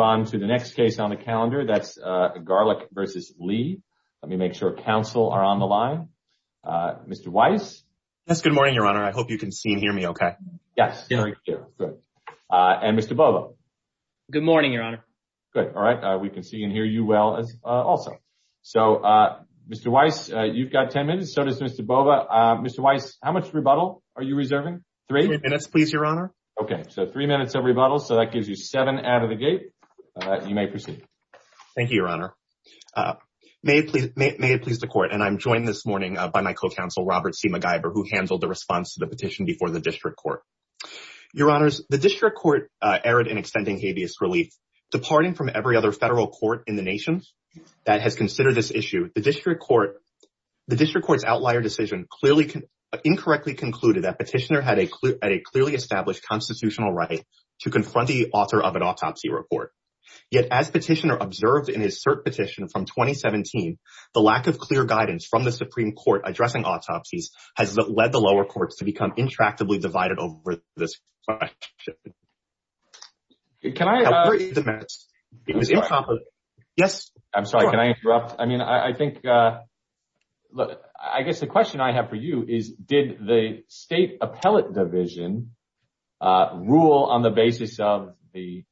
on to the next case on the calendar, that's Garlick versus Lee. Let me make sure counsel are on the line. Mr. Weiss? Yes, good morning, Your Honor. I hope you can see and hear me okay. Yes, very good. And Mr. Bova? Good morning, Your Honor. Good. All right. We can see and hear you well also. So, Mr. Weiss, you've got 10 minutes, so does Mr. Bova. Mr. Weiss, how much rebuttal are you reserving? Three? Three minutes, please, Your Honor. Okay. So, three minutes of rebuttal, so that gives you seven out of the gate. You may proceed. Thank you, Your Honor. May it please the Court, and I'm joined this morning by my co-counsel, Robert C. MacGyver, who handled the response to the petition before the District Court. Your Honors, the District Court erred in extending habeas relief. Departing from every other federal court in the nation that has considered this issue, the District Court's outlier decision clearly—incorrectly concluded that Petitioner had a clearly established constitutional right to confront the author of an autopsy report. Yet, as Petitioner observed in his cert petition from 2017, the lack of clear guidance from the Supreme Court addressing autopsies has led the lower courts to become intractably divided over this question. Can I— It was improper. I'm sorry. Yes? I guess the question I have for you is, did the State Appellate Division rule on the basis of the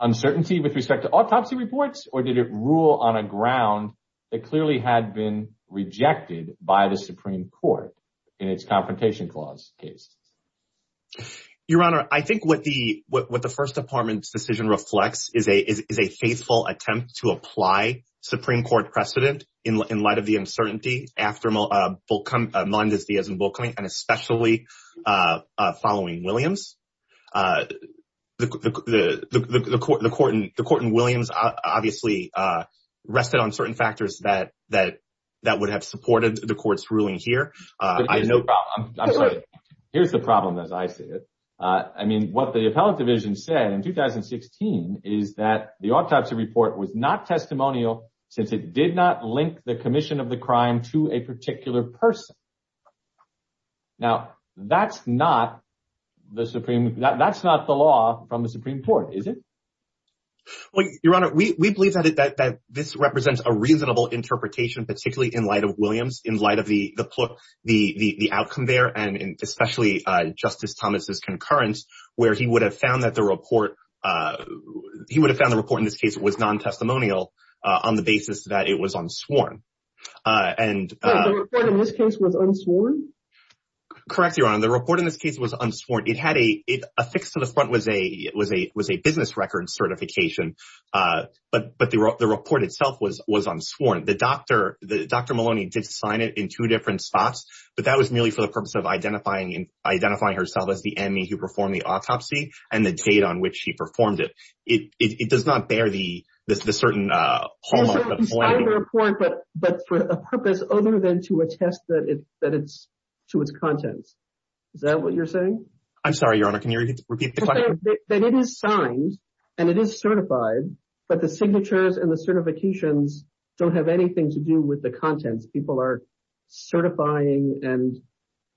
uncertainty with respect to autopsy reports, or did it rule on a ground that clearly had been rejected by the Supreme Court in its Confrontation Clause case? Your Honor, I think what the First Department's decision reflects is a faithful attempt to in light of the uncertainty after Melendez-Diaz and Bullock coming, and especially following Williams. The court in Williams obviously rested on certain factors that would have supported the court's ruling here. Here's the problem, as I see it. I mean, what the Appellate Division said in 2016 is that the autopsy report was not testimonial since it did not link the commission of the crime to a particular person. Now, that's not the Supreme—that's not the law from the Supreme Court, is it? Your Honor, we believe that this represents a reasonable interpretation, particularly in light of Williams, in light of the outcome there, and especially Justice Thomas' concurrence, where he would have found that the report—he would have found the report in this case was non-testimonial on the basis that it was unsworn. The report in this case was unsworn? Correct, Your Honor. The report in this case was unsworn. It had a—affixed to the front was a business record certification, but the report itself was unsworn. Dr. Maloney did sign it in two different spots, but that was merely for the purpose of identifying herself as the enemy who performed the autopsy and the date on which she performed it. It does not bear the certain hallmark of— He signed the report, but for a purpose other than to attest that it's—to its contents. Is that what you're saying? I'm sorry, Your Honor. Can you repeat the question? That it is signed and it is certified, but the signatures and the certifications don't have anything to do with the contents. People are certifying and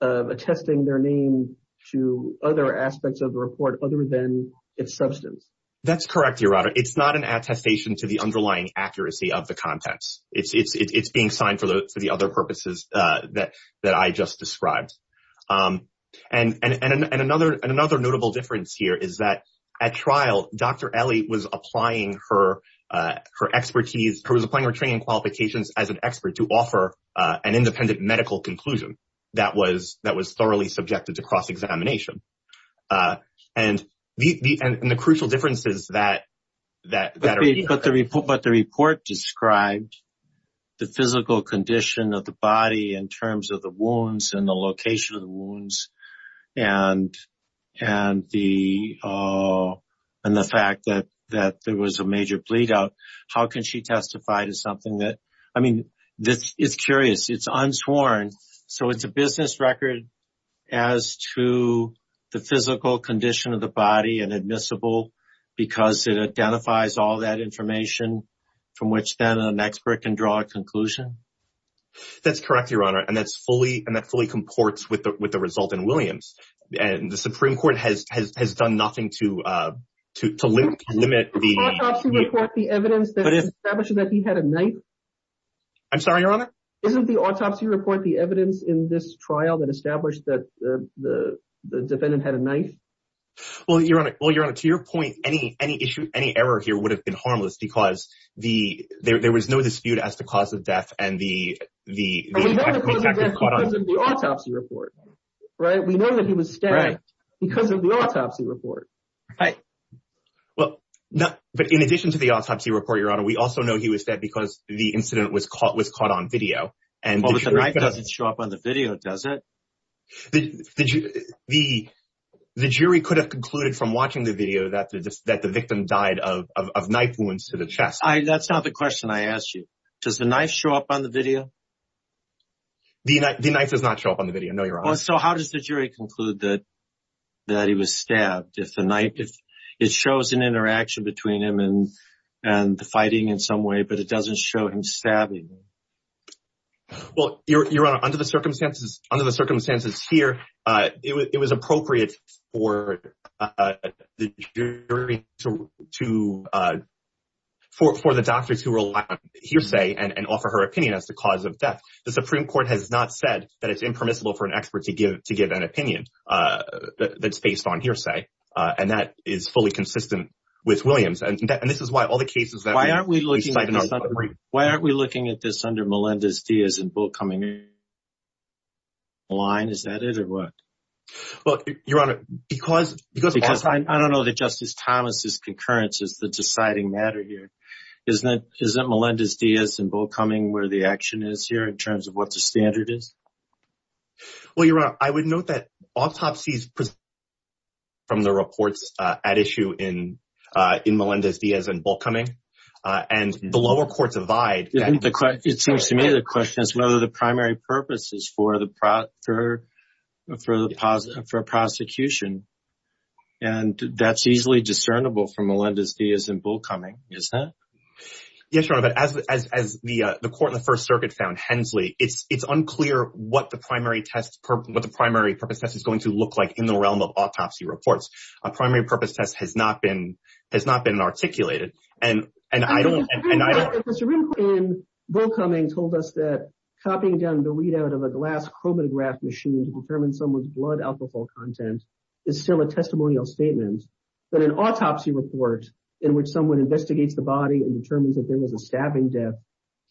attesting their name to other aspects of the report other than its substance. That's correct, Your Honor. It's not an attestation to the underlying accuracy of the contents. It's being signed for the other purposes that I just described. And another notable difference here is that at trial, Dr. Ellie was applying her training and qualifications as an expert to offer an independent medical conclusion that was thoroughly subjected to cross-examination. But the report described the physical condition of the body in terms of the location of the wounds and the fact that there was a major bleed-out. How can she testify to something that—I mean, it's curious. It's unsworn. So, it's a business record as to the physical condition of the body and admissible because it identifies all that information from which then an expert can draw a conclusion? That's correct, Your Honor. And that fully comports with the result in Williams. And the Supreme Court has done nothing to limit the— Didn't the autopsy report the evidence that established that he had a knife? I'm sorry, Your Honor? Didn't the autopsy report the evidence in this trial that established that the defendant had a knife? Well, Your Honor, to your point, any error here would have been harmless because there was no dispute as to the cause of death and the— We know the cause of death because of the autopsy report, right? We know that he was stabbed because of the autopsy report. Well, but in addition to the autopsy report, Your Honor, we also know he was stabbed because the incident was caught on video. Well, but the knife doesn't show up on the video, does it? The jury could have concluded from watching the video that the victim died of knife wounds to the That's not the question I asked you. Does the knife show up on the video? The knife does not show up on the video, no, Your Honor. Well, so how does the jury conclude that he was stabbed if the knife— it shows an interaction between him and the fighting in some way, but it doesn't show him stabbing? Well, Your Honor, under the circumstances here, it was appropriate for the jury to— for the doctors who rely on hearsay and offer her opinion as the cause of death. The Supreme Court has not said that it's impermissible for an expert to give an opinion that's based on hearsay, and that is fully consistent with Williams. And this is why all the cases that— Why aren't we looking at this under Melendez-Diaz and Bull coming in line? Is that it or what? Well, Your Honor, because— I don't know that Justice Thomas's concurrence is the deciding matter here. Isn't Melendez-Diaz and Bull coming where the action is here in terms of what the standard is? Well, Your Honor, I would note that autopsy is presumed from the reports at issue in Melendez-Diaz and Bull coming, and the lower courts abide— It seems to me the question is whether the primary purpose is for the prosecution, and that's easily discernible from Melendez-Diaz and Bull coming, isn't it? Yes, Your Honor, but as the court in the First Circuit found, Hensley, it's unclear what the primary purpose test is going to look like in the realm of autopsy reports. A primary purpose test has not been articulated, and I don't— Because the Supreme Court in Bull coming told us that copying down the readout of a glass chromatograph machine to determine someone's blood alcohol content is still a testimonial statement, but an autopsy report in which someone investigates the body and determines that there was a stabbing death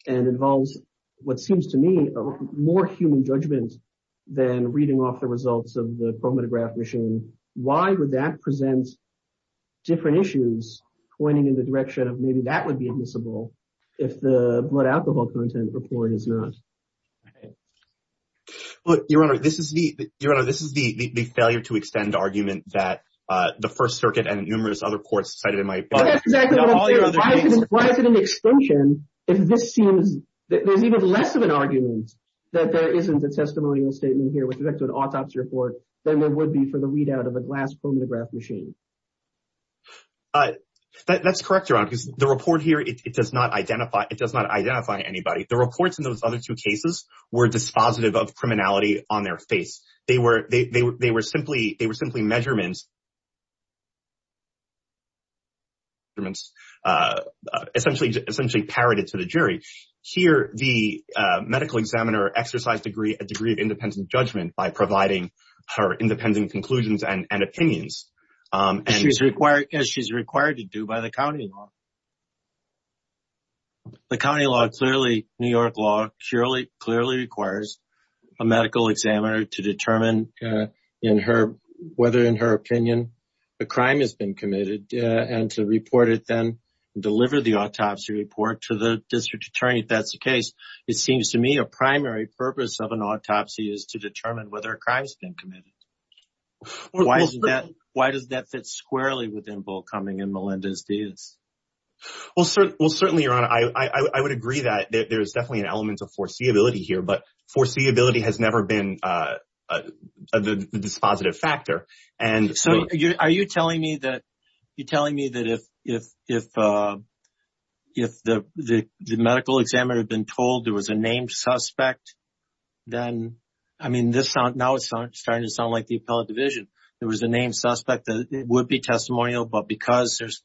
and involves what seems to me more human judgment than reading off the results of the chromatograph machine, why would that present different issues pointing in the direction of maybe that would be admissible if the blood alcohol content report is not? Okay. Look, Your Honor, this is the failure to extend argument that the First Circuit and numerous other courts cited in my book— That's exactly what I'm saying. Why is it an extension if there's even less of an argument that there isn't a testimonial statement here with respect to an autopsy report than there would be for the readout of a glass chromatograph machine? That's correct, Your Honor, because the report here, it does not identify anybody. The reports in those other two cases were dispositive of criminality on their face. They were simply measurements essentially parroted to the jury. Here, the medical examiner exercised a degree of independent judgment by providing her independent conclusions and opinions. She's required to do by the county law. The county law, clearly, New York law, clearly requires a medical examiner to determine whether in her opinion a crime has been committed and to report it then and deliver the autopsy report to the district attorney if that's the case. It seems to me a primary purpose of an autopsy is to determine whether a crime has been committed. Why does that fit squarely with involve coming in Melinda's case? Well, certainly, Your Honor, I would agree that there's definitely an element of foreseeability here, but foreseeability has never been a dispositive factor. Are you telling me that if the medical examiner had been told there was a named suspect, then, I mean, now it's starting to sound like the appellate division. There was a named suspect that would be testimonial, but because there's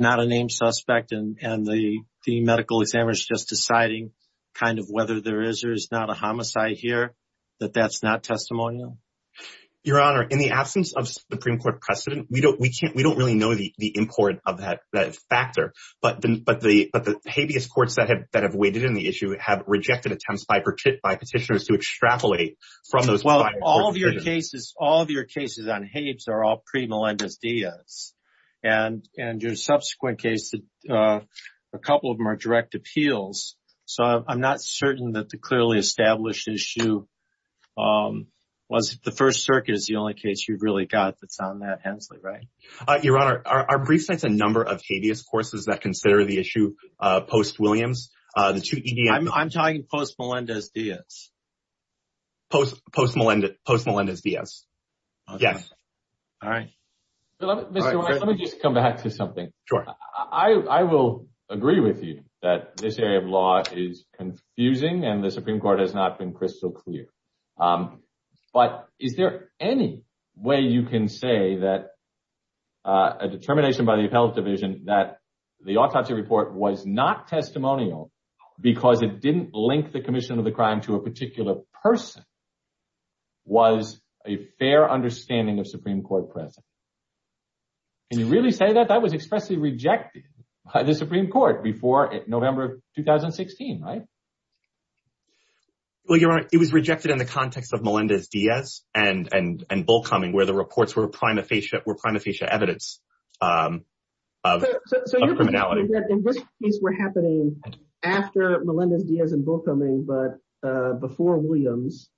not a named suspect and the medical examiner is just deciding kind of whether there is or is not a homicide here, that that's not testimonial? Your Honor, in the absence of Supreme Court precedent, we don't really know the import of that factor, but the habeas courts that have waited in the issue have rejected attempts All of your cases on habeas are all pre-Melinda's Diaz, and your subsequent cases, a couple of them are direct appeals, so I'm not certain that the clearly established issue was the First Circuit is the only case you've really got that's on that Hensley, right? Your Honor, our brief states a number of habeas courses that consider the issue post-Williams. I'm talking post-Melinda's Diaz. Post-Melinda's Diaz, yes. All right, Mr. Weiss, let me just come back to something. Sure. I will agree with you that this area of law is confusing and the Supreme Court has not been crystal clear, but is there any way you can say that a determination by the appellate division that the autopsy report was not testimonial because it didn't link the commission of crime to a particular person was a fair understanding of Supreme Court precedent? Can you really say that? That was expressly rejected by the Supreme Court before November of 2016, right? Well, Your Honor, it was rejected in the context of Melinda's Diaz and Bullcoming, where the reports were prima facie evidence of criminality. In this case, we're happening after Melinda's Diaz and Bullcoming, but before Williams,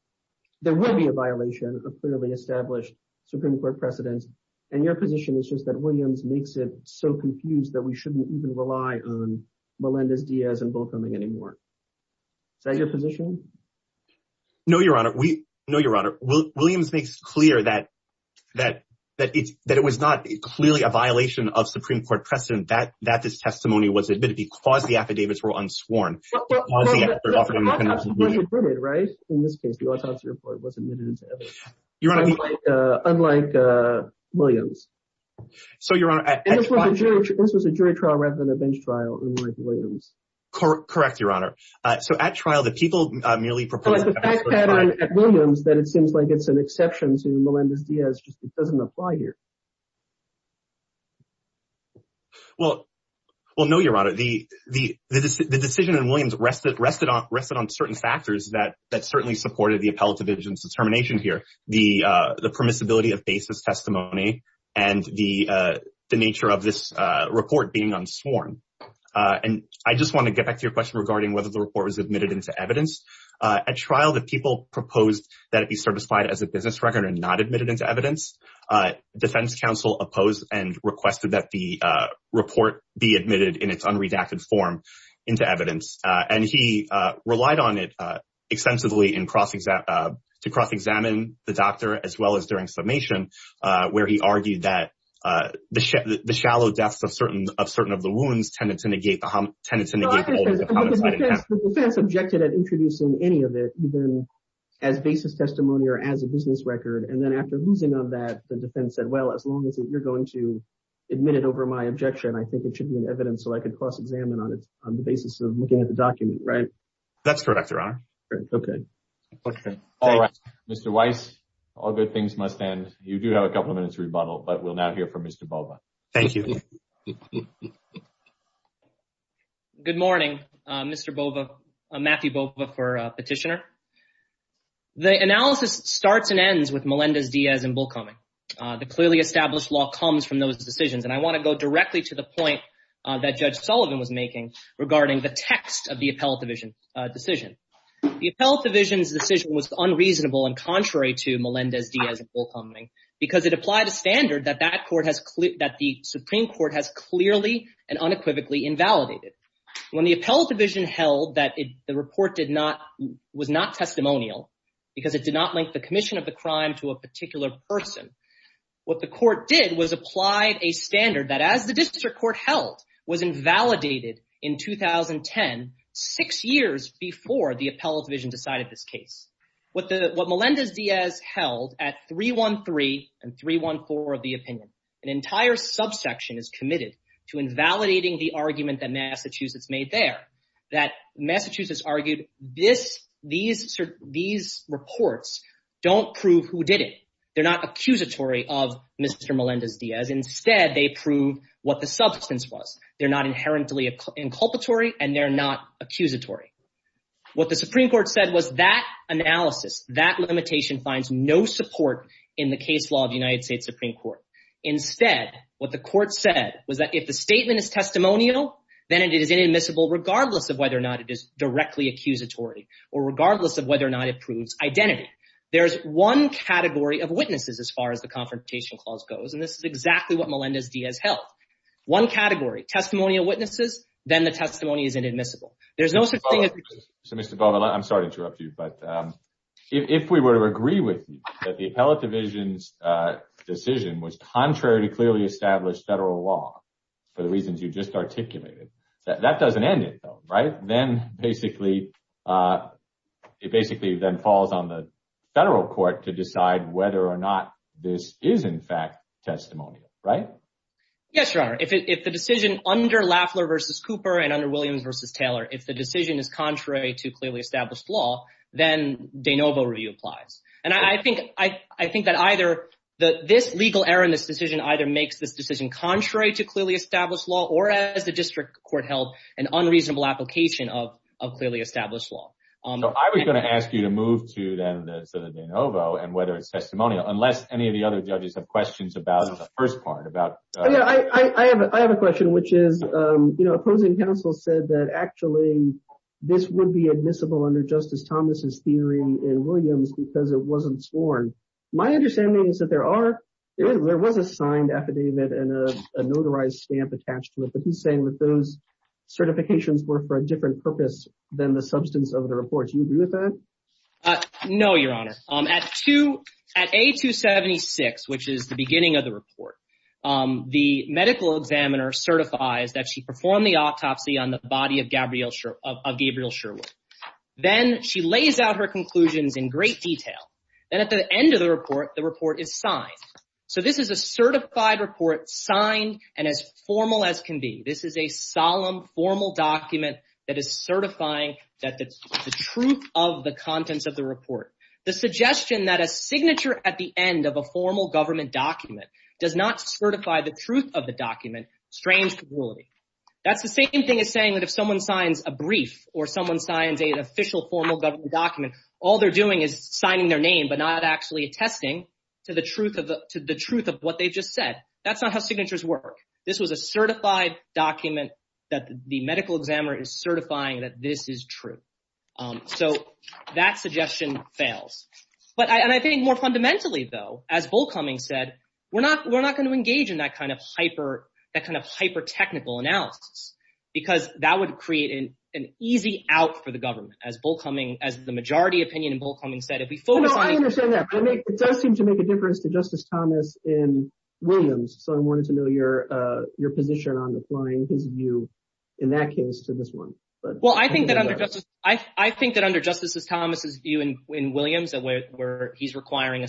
there will be a violation of clearly established Supreme Court precedent. And your position is just that Williams makes it so confused that we shouldn't even rely on Melinda's Diaz and Bullcoming anymore. Is that your position? No, Your Honor. Williams makes clear that it was not clearly a violation of Supreme Court precedent that this testimony was admitted because the affidavits were unsworn. In this case, the autopsy report was admitted as evidence, unlike Williams. This was a jury trial rather than a bench trial, unlike Williams. Correct, Your Honor. So at trial, the people merely proposed— Well, it's the fact pattern at Williams that it seems like it's an exception to Melinda's Diaz, just it doesn't apply here. Well, no, Your Honor, the decision in Williams rested on certain factors that certainly supported the appellate division's determination here, the permissibility of basis testimony and the nature of this report being unsworn. And I just want to get back to your question regarding whether the report was admitted into evidence. At trial, the people proposed that it be certified as a business record and not admitted into evidence. Defense counsel opposed and requested that the report be admitted in its unredacted form into evidence. And he relied on it extensively to cross-examine the doctor as well as during summation, where he argued that the shallow depths of certain of the wounds tended to negate the homicide attempt. The defense objected at introducing any of it, even as basis testimony or as a business record, and then after losing on that, the defense said, well, as long as you're going to admit it over my objection, I think it should be in evidence so I could cross-examine on it on the basis of looking at the document, right? That's correct, Your Honor. Okay. All right, Mr. Weiss, all good things must end. You do have a couple of minutes to rebuttal, but we'll now hear from Mr. Bova. Thank you. Good morning, Mr. Bova, Matthew Bova for Petitioner. The analysis starts and ends with Melendez-Diaz and Bullcombing. The clearly established law comes from those decisions, and I want to go directly to the point that Judge Sullivan was making regarding the text of the appellate division decision. The appellate division's decision was unreasonable and contrary to Melendez-Diaz and Bullcombing because it applied a standard that the Supreme Court has clearly and unequivocally invalidated. When the appellate division held that the report was not testimonial because it did not link the commission of the crime to a particular person, what the court did was apply a standard that, as the district court held, was invalidated in 2010, six years before the appellate division decided this case. What Melendez-Diaz held at 313 and 314 of the opinion, an entire subsection is committed to invalidating the argument that Massachusetts made there, that Massachusetts argued these reports don't prove who did it. They're not accusatory of Mr. Melendez-Diaz. Instead, they prove what the substance was. They're not inherently inculpatory, and they're not accusatory. What the Supreme Court said was that analysis, that limitation finds no support in the case law of the United States Supreme Court. Instead, what the court said was that if the statement is testimonial, then it is inadmissible regardless of whether or not it is directly accusatory or regardless of whether or not it proves identity. There's one category of witnesses, as far as the Confrontation Clause goes, and this is exactly what Melendez-Diaz held. One category, testimonial witnesses, then the testimony is inadmissible. There's no such thing as— So, Mr. Baldwin, I'm sorry to interrupt you, but if we were to agree with you that the Appellate Division's decision was contrary to clearly established federal law for the reasons you just articulated, that doesn't end it, though, right? Then, basically, it basically then falls on the federal court to decide whether or not this is, in fact, testimonial, right? Yes, Your Honor. If the decision under Lafler v. Cooper and under Williams v. Taylor, if the decision is contrary to clearly established law, then de novo review applies. And I think that either this legal error in this decision either makes this decision contrary to clearly established law or, as the district court held, an unreasonable application of clearly established law. So, I was going to ask you to move to, then, the de novo and whether it's testimonial, unless any of the other judges have questions about the first part, about— I have a question, which is opposing counsel said that, actually, this would be admissible under Justice Thomas' theory in Williams because it wasn't sworn. My understanding is that there was a signed affidavit and a notarized stamp attached to it, but he's saying that those certifications were for a different purpose than the substance of the report. Do you agree with that? No, Your Honor. At A276, which is the beginning of the report, the medical examiner certifies that she performed the autopsy on the body of Gabriel Sherwood. Then, she lays out her conclusions in great detail. Then, at the end of the report, the report is signed. So, this is a certified report signed and as formal as can be. This is a solemn, formal document that is certifying that the truth of the contents of the report. The suggestion that a signature at the end of a formal government document does not certify the truth of the document strains the ruling. That's the same thing as saying that if someone signs a brief or someone signs an official, formal government document, all they're doing is signing their name but not actually attesting to the truth of what they just said. That's not how signatures work. This was a certified document that the medical examiner is certifying that this is true. So, that suggestion fails. And I think more fundamentally, though, as Bullcoming said, we're not going to engage in that kind of hyper, that kind of hyper-technical analysis because that would create an easy out for the government. As Bullcoming, as the majority opinion in Bullcoming said, if we focus on- No, I understand that. It does seem to make a difference to Justice Thomas in Williams. So, I wanted to know your position on applying his view in that case to this one. Well, I think that under Justice Thomas's view in Williams, where he's requiring a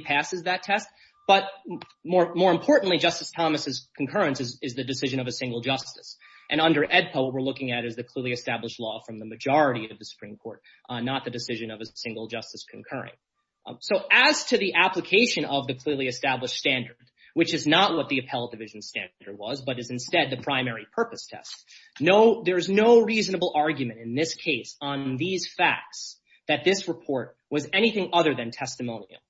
passes that test, but more importantly, Justice Thomas's concurrence is the decision of a single justice. And under AEDPA, what we're looking at is the clearly established law from the majority of the Supreme Court, not the decision of a single justice concurring. So, as to the application of the clearly established standard, which is not what the Appellate Division standard was, but is instead the primary purpose test, there's no reasonable argument in this case on these facts that this report was anything other than testimonial.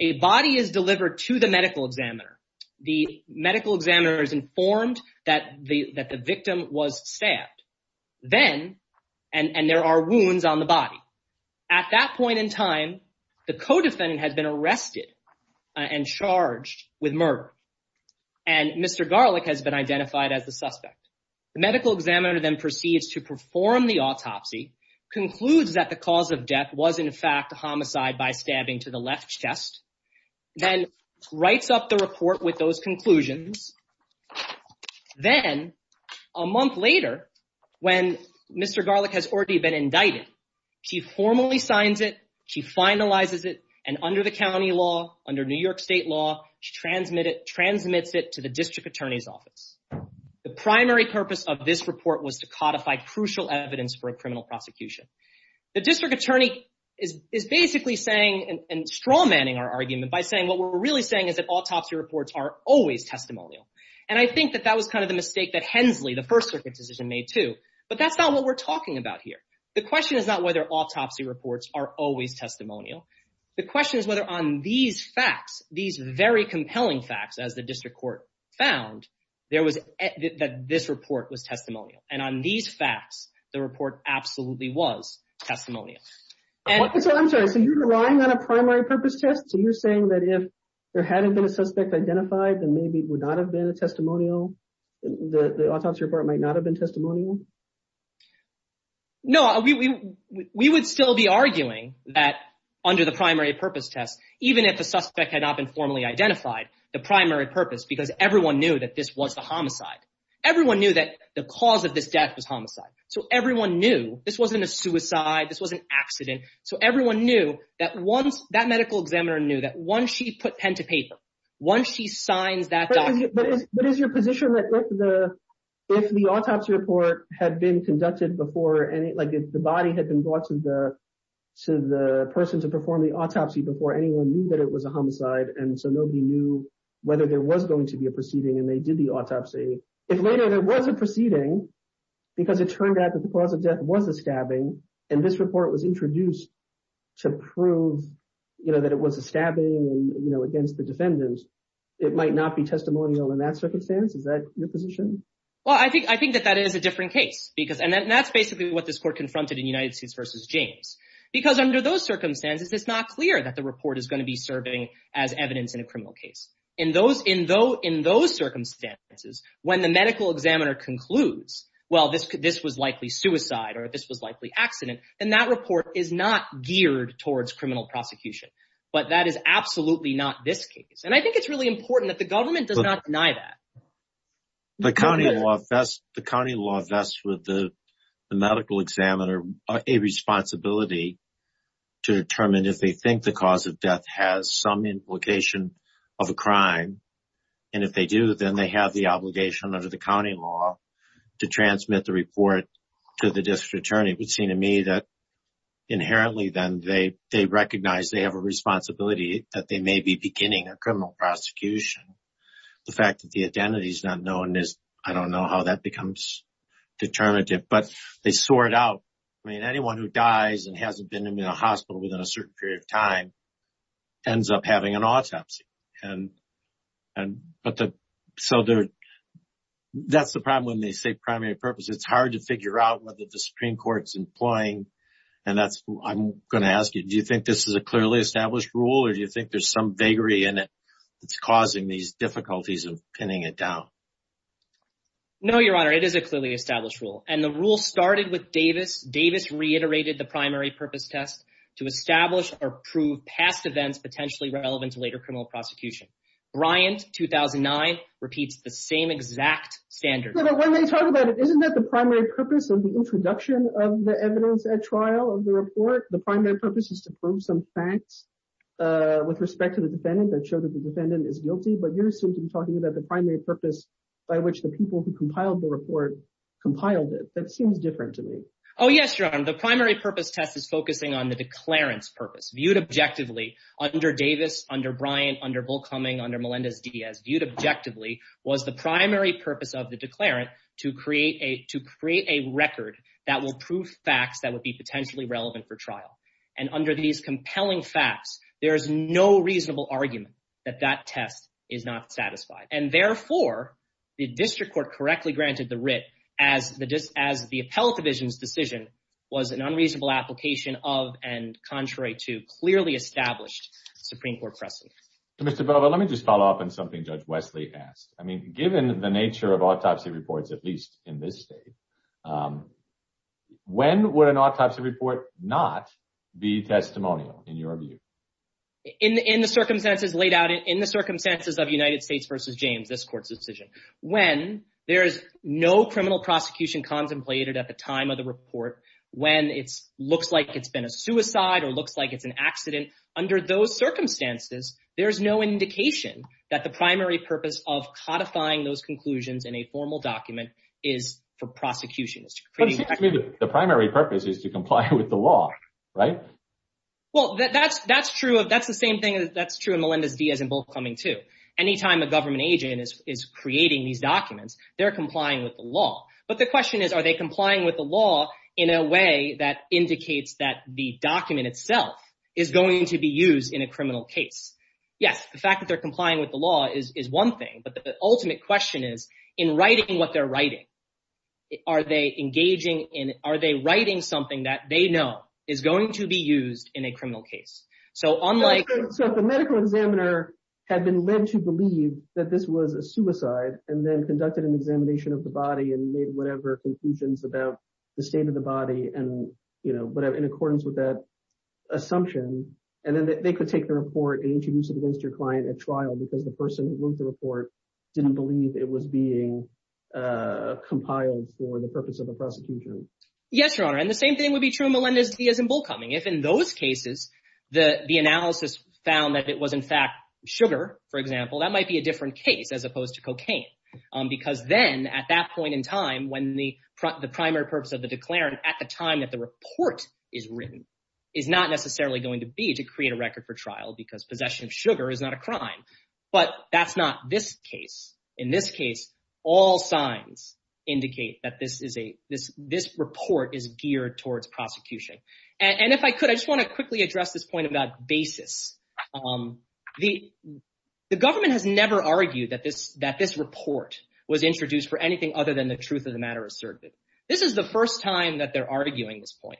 A body is delivered to the medical examiner. The medical examiner is informed that the victim was stabbed. Then, and there are wounds on the body. At that point in time, the co-defendant has been arrested and charged with murder. And Mr. Garlick has been identified as the suspect. The medical examiner then proceeds to perform the autopsy, concludes that the cause of death was in fact homicide by stabbing to the left chest, then writes up the report with those conclusions. Then, a month later, when Mr. Garlick has already been indicted, he formally signs it, he finalizes it, and under the county law, under New York state law, he transmits it to the district attorney's office. The primary purpose of this report was to codify crucial evidence for a criminal prosecution. The district attorney is basically saying and strawmanning our argument by saying what we're really saying is that autopsy reports are always testimonial. And I think that that was kind of the mistake that Hensley, the first circuit decision, made too. But that's not what we're talking about here. The question is not whether autopsy reports are always testimonial. The question is whether on these facts, these very compelling facts, as the district court found, that this report was testimonial. And on these facts, the report absolutely was testimonial. So I'm sorry, so you're relying on a primary purpose test? So you're saying that if there hadn't been a suspect identified, then maybe it would not have been a testimonial? The autopsy report might not have been testimonial? No, we would still be arguing that under the primary purpose test, even if the suspect had not been formally identified, the primary purpose, because everyone knew that this was the homicide. Everyone knew that the cause of this death was homicide. So everyone knew this wasn't a suicide. This was an accident. So everyone knew that once that medical examiner knew that once she put pen to paper, once she signs that document. But is your position that if the autopsy report had been conducted before, like if the body had been brought to the person to perform the autopsy before anyone knew that it was a homicide, and so nobody knew whether there was going to be a proceeding and they did the autopsy, if later there was a proceeding, because it turned out that the cause of death was a stabbing, and this report was introduced to prove that it was a stabbing against the defendant, it might not be testimonial in that circumstance? Is that your position? Well, I think that that is a different case, and that's basically what this court confronted in United States v. James. Because under those circumstances, it's not clear that the report is going to be serving as evidence in a criminal case. In those circumstances, when the medical examiner concludes, well, this was likely suicide or this was likely accident, then that report is not geared towards criminal prosecution. But that is absolutely not this case. And I think it's really important that the government does not deny that. The county law vests with the medical examiner a responsibility to determine if they think the cause of death has some implication of a crime, and if they do, then they have the obligation under the county law to transmit the report to the district attorney. It would seem to me that inherently then they recognize they have a responsibility that they may be beginning a criminal prosecution. The fact that the identity is not known, I don't know how that becomes determinative, but they sort it out. I mean, anyone who dies and hasn't been in a hospital within a certain period of time ends up having an autopsy. That's the problem when they say primary purpose. It's hard to figure out whether the Supreme Court's employing. And that's what I'm going to ask you. Do you think this is a clearly established rule or do you think there's some vagary in it that's causing these difficulties of pinning it down? No, Your Honor, it is a clearly established rule. And the rule started with Davis. Davis reiterated the primary purpose test to establish or prove past events potentially relevant to later criminal prosecution. Bryant, 2009, repeats the same exact standard. When they talk about it, isn't that the primary purpose of the introduction of the evidence at trial of the report? The primary purpose is to prove some facts with respect to the defendant that show that the defendant is guilty. But you're assumed to be talking about the primary purpose by which the people who compiled the report compiled it. That seems different to me. Oh, yes, Your Honor. The primary purpose test is focusing on the declarant's purpose. Viewed objectively under Davis, under Bryant, under Bullcoming, under Melendez-Diaz, viewed objectively was the primary purpose of the declarant to create a record that will prove facts that would be potentially relevant for trial. And under these compelling facts, there is no reasonable argument that that test is not satisfied. And therefore, the district court correctly granted the writ as the appellate division's decision was an unreasonable application of and contrary to clearly established Supreme Court precedent. Mr. Bova, let me just follow up on something Judge Wesley asked. I mean, given the nature of autopsy reports, at least in this state, when would an autopsy report not be testimonial in your view? In the circumstances laid out, in the circumstances of United States v. James, this court's decision. When there is no criminal prosecution contemplated at the time of the report, when it looks like it's been a suicide or looks like it's an accident, under those circumstances, there is no indication that the primary purpose of codifying those conclusions in a formal document is for prosecution. The primary purpose is to comply with the law, right? Well, that's true. That's the same thing that's true in Melendez-Diaz and Bulk Cumming too. Anytime a government agent is creating these documents, they're complying with the law. But the question is, are they complying with the law in a way that indicates that the document itself is going to be used in a criminal case? Yes, the fact that they're complying with the law is one thing. But the ultimate question is, in writing what they're writing, are they engaging in, are they writing something that they know is going to be used in a criminal case? So if a medical examiner had been led to believe that this was a suicide and then conducted an examination of the body and made whatever conclusions about the state of the body in accordance with that assumption, and then they could take the report and introduce it against your client at trial because the person who wrote the report didn't believe it was being compiled for the purpose of a prosecution. Yes, Your Honor. And the same thing would be true in Melendez-Diaz and Bulk Cumming. If in those cases the analysis found that it was in fact sugar, for example, that might be a different case as opposed to cocaine. Because then at that point in time when the primary purpose of the declarant at the time that the report is written is not necessarily going to be to create a record for trial because possession of sugar is not a crime. But that's not this case. In this case, all signs indicate that this report is geared towards prosecution. And if I could, I just want to quickly address this point about basis. The government has never argued that this report was introduced for anything other than the truth of the matter asserted. This is the first time that they're arguing this point.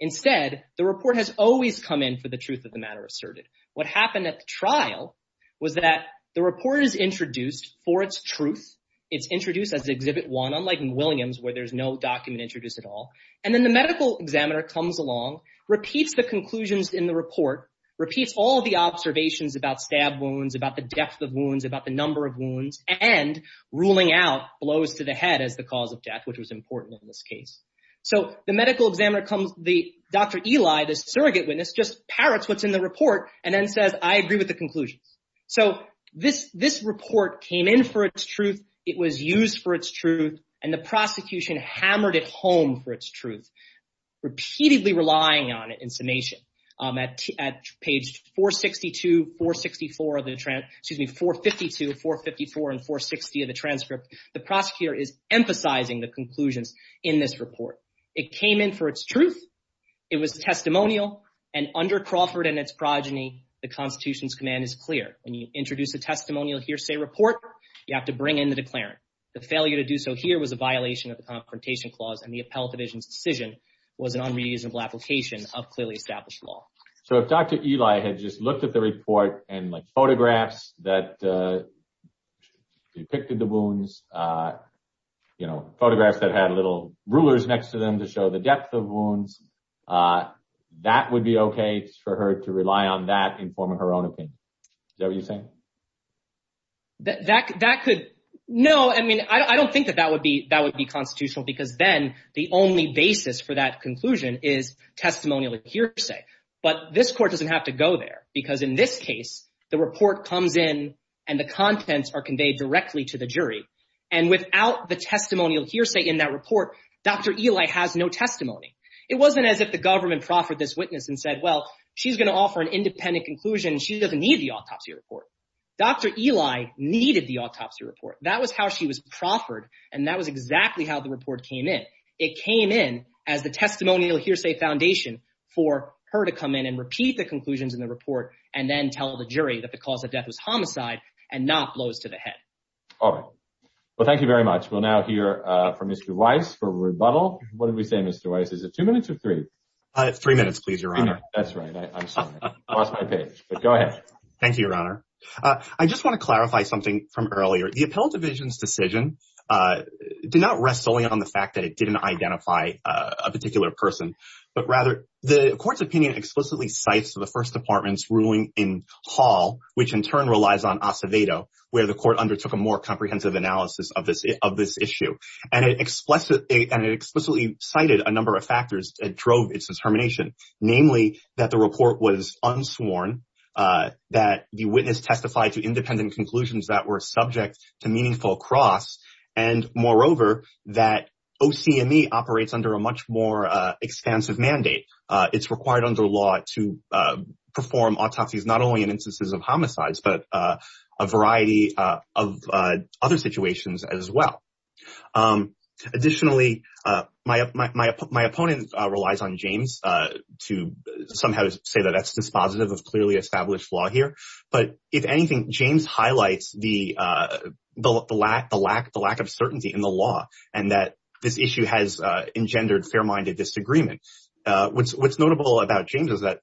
Instead, the report has always come in for the truth of the matter asserted. What happened at the trial was that the report is introduced for its truth. It's introduced as Exhibit 1, unlike in Williams where there's no document introduced at all. And then the medical examiner comes along, repeats the conclusions in the report, repeats all the observations about stab wounds, about the depth of wounds, about the number of wounds, and ruling out blows to the head as the cause of death, which was important in this case. So the medical examiner comes, Dr. Eli, the surrogate witness, just parrots what's in the report and then says, I agree with the conclusions. So this report came in for its truth. It was used for its truth. And the prosecution hammered it home for its truth, repeatedly relying on it in summation. At page 452, 454, and 460 of the transcript, the prosecutor is emphasizing the conclusions in this report. It came in for its truth. It was testimonial. And under Crawford and its progeny, the Constitution's command is clear. When you introduce a testimonial hearsay report, you have to bring in the declarant. The failure to do so here was a violation of the Confrontation Clause. And the Appellate Division's decision was an unreasonable application of clearly established law. So if Dr. Eli had just looked at the report and photographs that depicted the wounds, you know, photographs that had little rulers next to them to show the depth of wounds, that would be OK for her to rely on that in forming her own opinion. Is that what you're saying? That could, no. I mean, I don't think that that would be constitutional, because then the only basis for that conclusion is testimonial hearsay. But this court doesn't have to go there, because in this case, the report comes in and the contents are conveyed directly to the jury. And without the testimonial hearsay in that report, Dr. Eli has no testimony. It wasn't as if the government proffered this witness and said, well, she's going to offer an independent conclusion. She doesn't need the autopsy report. Dr. Eli needed the autopsy report. That was how she was proffered. And that was exactly how the report came in. It came in as the testimonial hearsay foundation for her to come in and repeat the conclusions in the report and then tell the jury that the cause of death was homicide and not blows to the head. All right. Well, thank you very much. We'll now hear from Mr. Weiss for a rebuttal. What did we say, Mr. Weiss? Is it two minutes or three? Three minutes, please, Your Honor. That's right. I'm sorry. I lost my page, but go ahead. Thank you, Your Honor. I just want to clarify something from earlier. The appellate division's decision did not rest solely on the fact that it didn't identify a particular person, but rather the court's opinion explicitly cites the First Department's ruling in Hall, which in turn relies on Acevedo, where the court undertook a more comprehensive analysis of this issue. And it explicitly cited a number of factors that drove its determination, namely that the report was unsworn, that the witness testified to independent conclusions that were subject to meaningful cross, and moreover, that OCME operates under a much more expansive mandate. It's required under law to perform autopsies, not only in instances of homicides, but a variety of other situations as well. Additionally, my opponent relies on James to somehow say that that's dispositive of clearly established law here. But if anything, James highlights the lack of certainty in the law and that this issue has engendered fair-minded disagreement. What's notable about James is that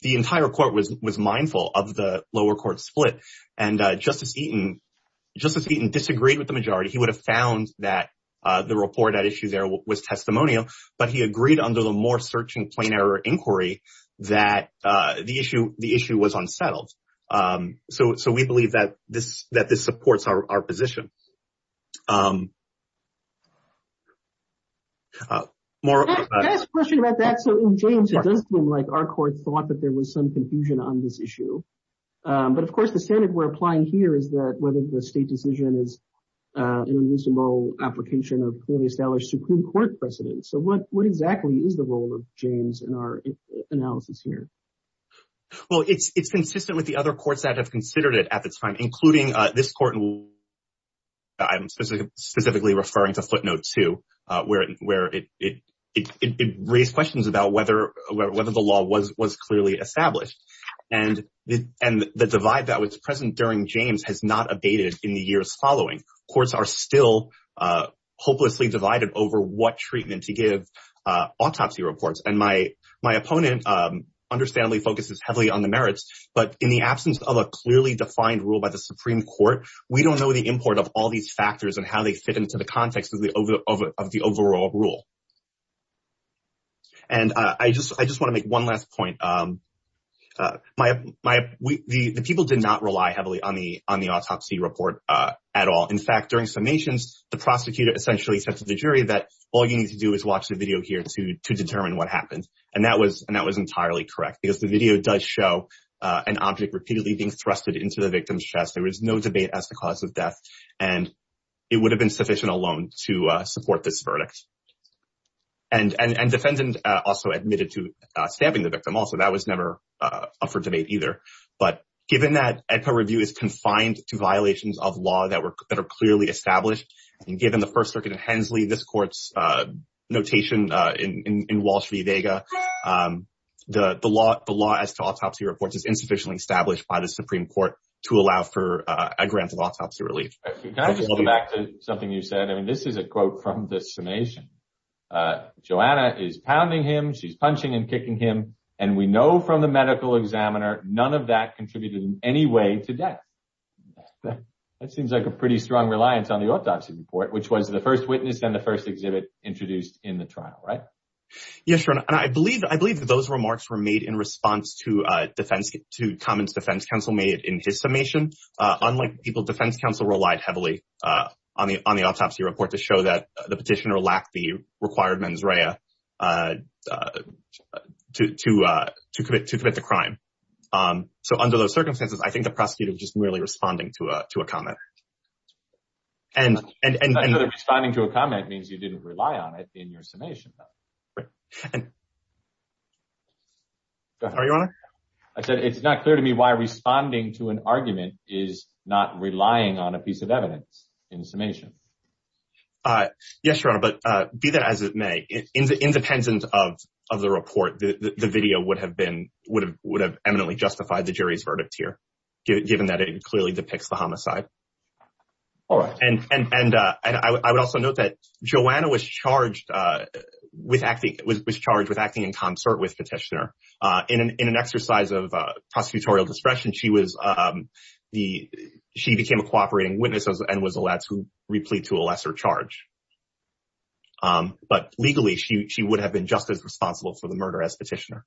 the entire court was mindful of the lower court split, and Justice Eaton disagreed with the majority. He would have found that the report at issue there was testimonial, but he agreed under the more searching, plain-error inquiry that the issue was unsettled. So we believe that this supports our position. Last question about that. So in James, it does seem like our court thought that there was some confusion on this issue. But of course, the standard we're applying here is that whether the state decision is an irreducible application of clearly established Supreme Court precedents. So what exactly is the role of James in our analysis here? Well, it's consistent with the other courts that have considered it at this time, including this court in which I'm specifically referring to footnote two, where it raised questions about whether the law was clearly established. And the divide that was present during James has not abated in the years following. Courts are still hopelessly divided over what treatment to give autopsy reports. And my opponent understandably focuses heavily on the merits, but in the absence of a clearly defined rule by the Supreme Court, we don't know the import of all these factors and how they fit into the context of the overall rule. And I just want to make one last point. The people did not rely heavily on the autopsy report at all. In fact, during summations, the prosecutor essentially said to the jury that all you need to do is watch the video here to determine what happened. And that was entirely correct, because the video does show an object repeatedly being thrown into the victim's chest. There was no debate as to the cause of death, and it would have been sufficient alone to support this verdict. And defendants also admitted to stamping the victim. Also, that was never up for debate either. But given that ECA review is confined to violations of law that are clearly established, and given the First Circuit of Hensley, this court's notation in Wall Street Vega, the law as to allow for a grant of autopsy relief. Can I just go back to something you said? I mean, this is a quote from the summation. Joanna is pounding him. She's punching and kicking him. And we know from the medical examiner, none of that contributed in any way to death. That seems like a pretty strong reliance on the autopsy report, which was the first witness and the first exhibit introduced in the trial, right? Yes, Your Honor. And I believe that those remarks were made in response to comments the defense counsel made in his summation. Unlike people, defense counsel relied heavily on the autopsy report to show that the petitioner lacked the required mens rea to commit the crime. So under those circumstances, I think the prosecutor was just merely responding to a comment. I know that responding to a comment means you didn't rely on it in your summation, though. Right. Go ahead, Your Honor. I said it's not clear to me why responding to an argument is not relying on a piece of evidence in the summation. Yes, Your Honor. But be that as it may, independent of the report, the video would have eminently justified the jury's verdict here, given that it clearly depicts the homicide. All right. And I would also note that Joanna was charged with acting in concert with petitioner. In an exercise of prosecutorial discretion, she became a cooperating witness and was allowed to replete to a lesser charge. But legally, she would have been just as responsible for the murder as petitioner.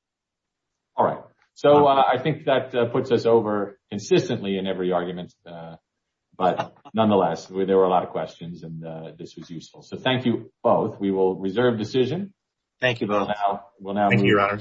All right. So I think that puts us over consistently in every argument. But nonetheless, there were a lot of questions, and this was useful. So thank you both. We will reserve decision. Thank you both. Thank you, Your Honor.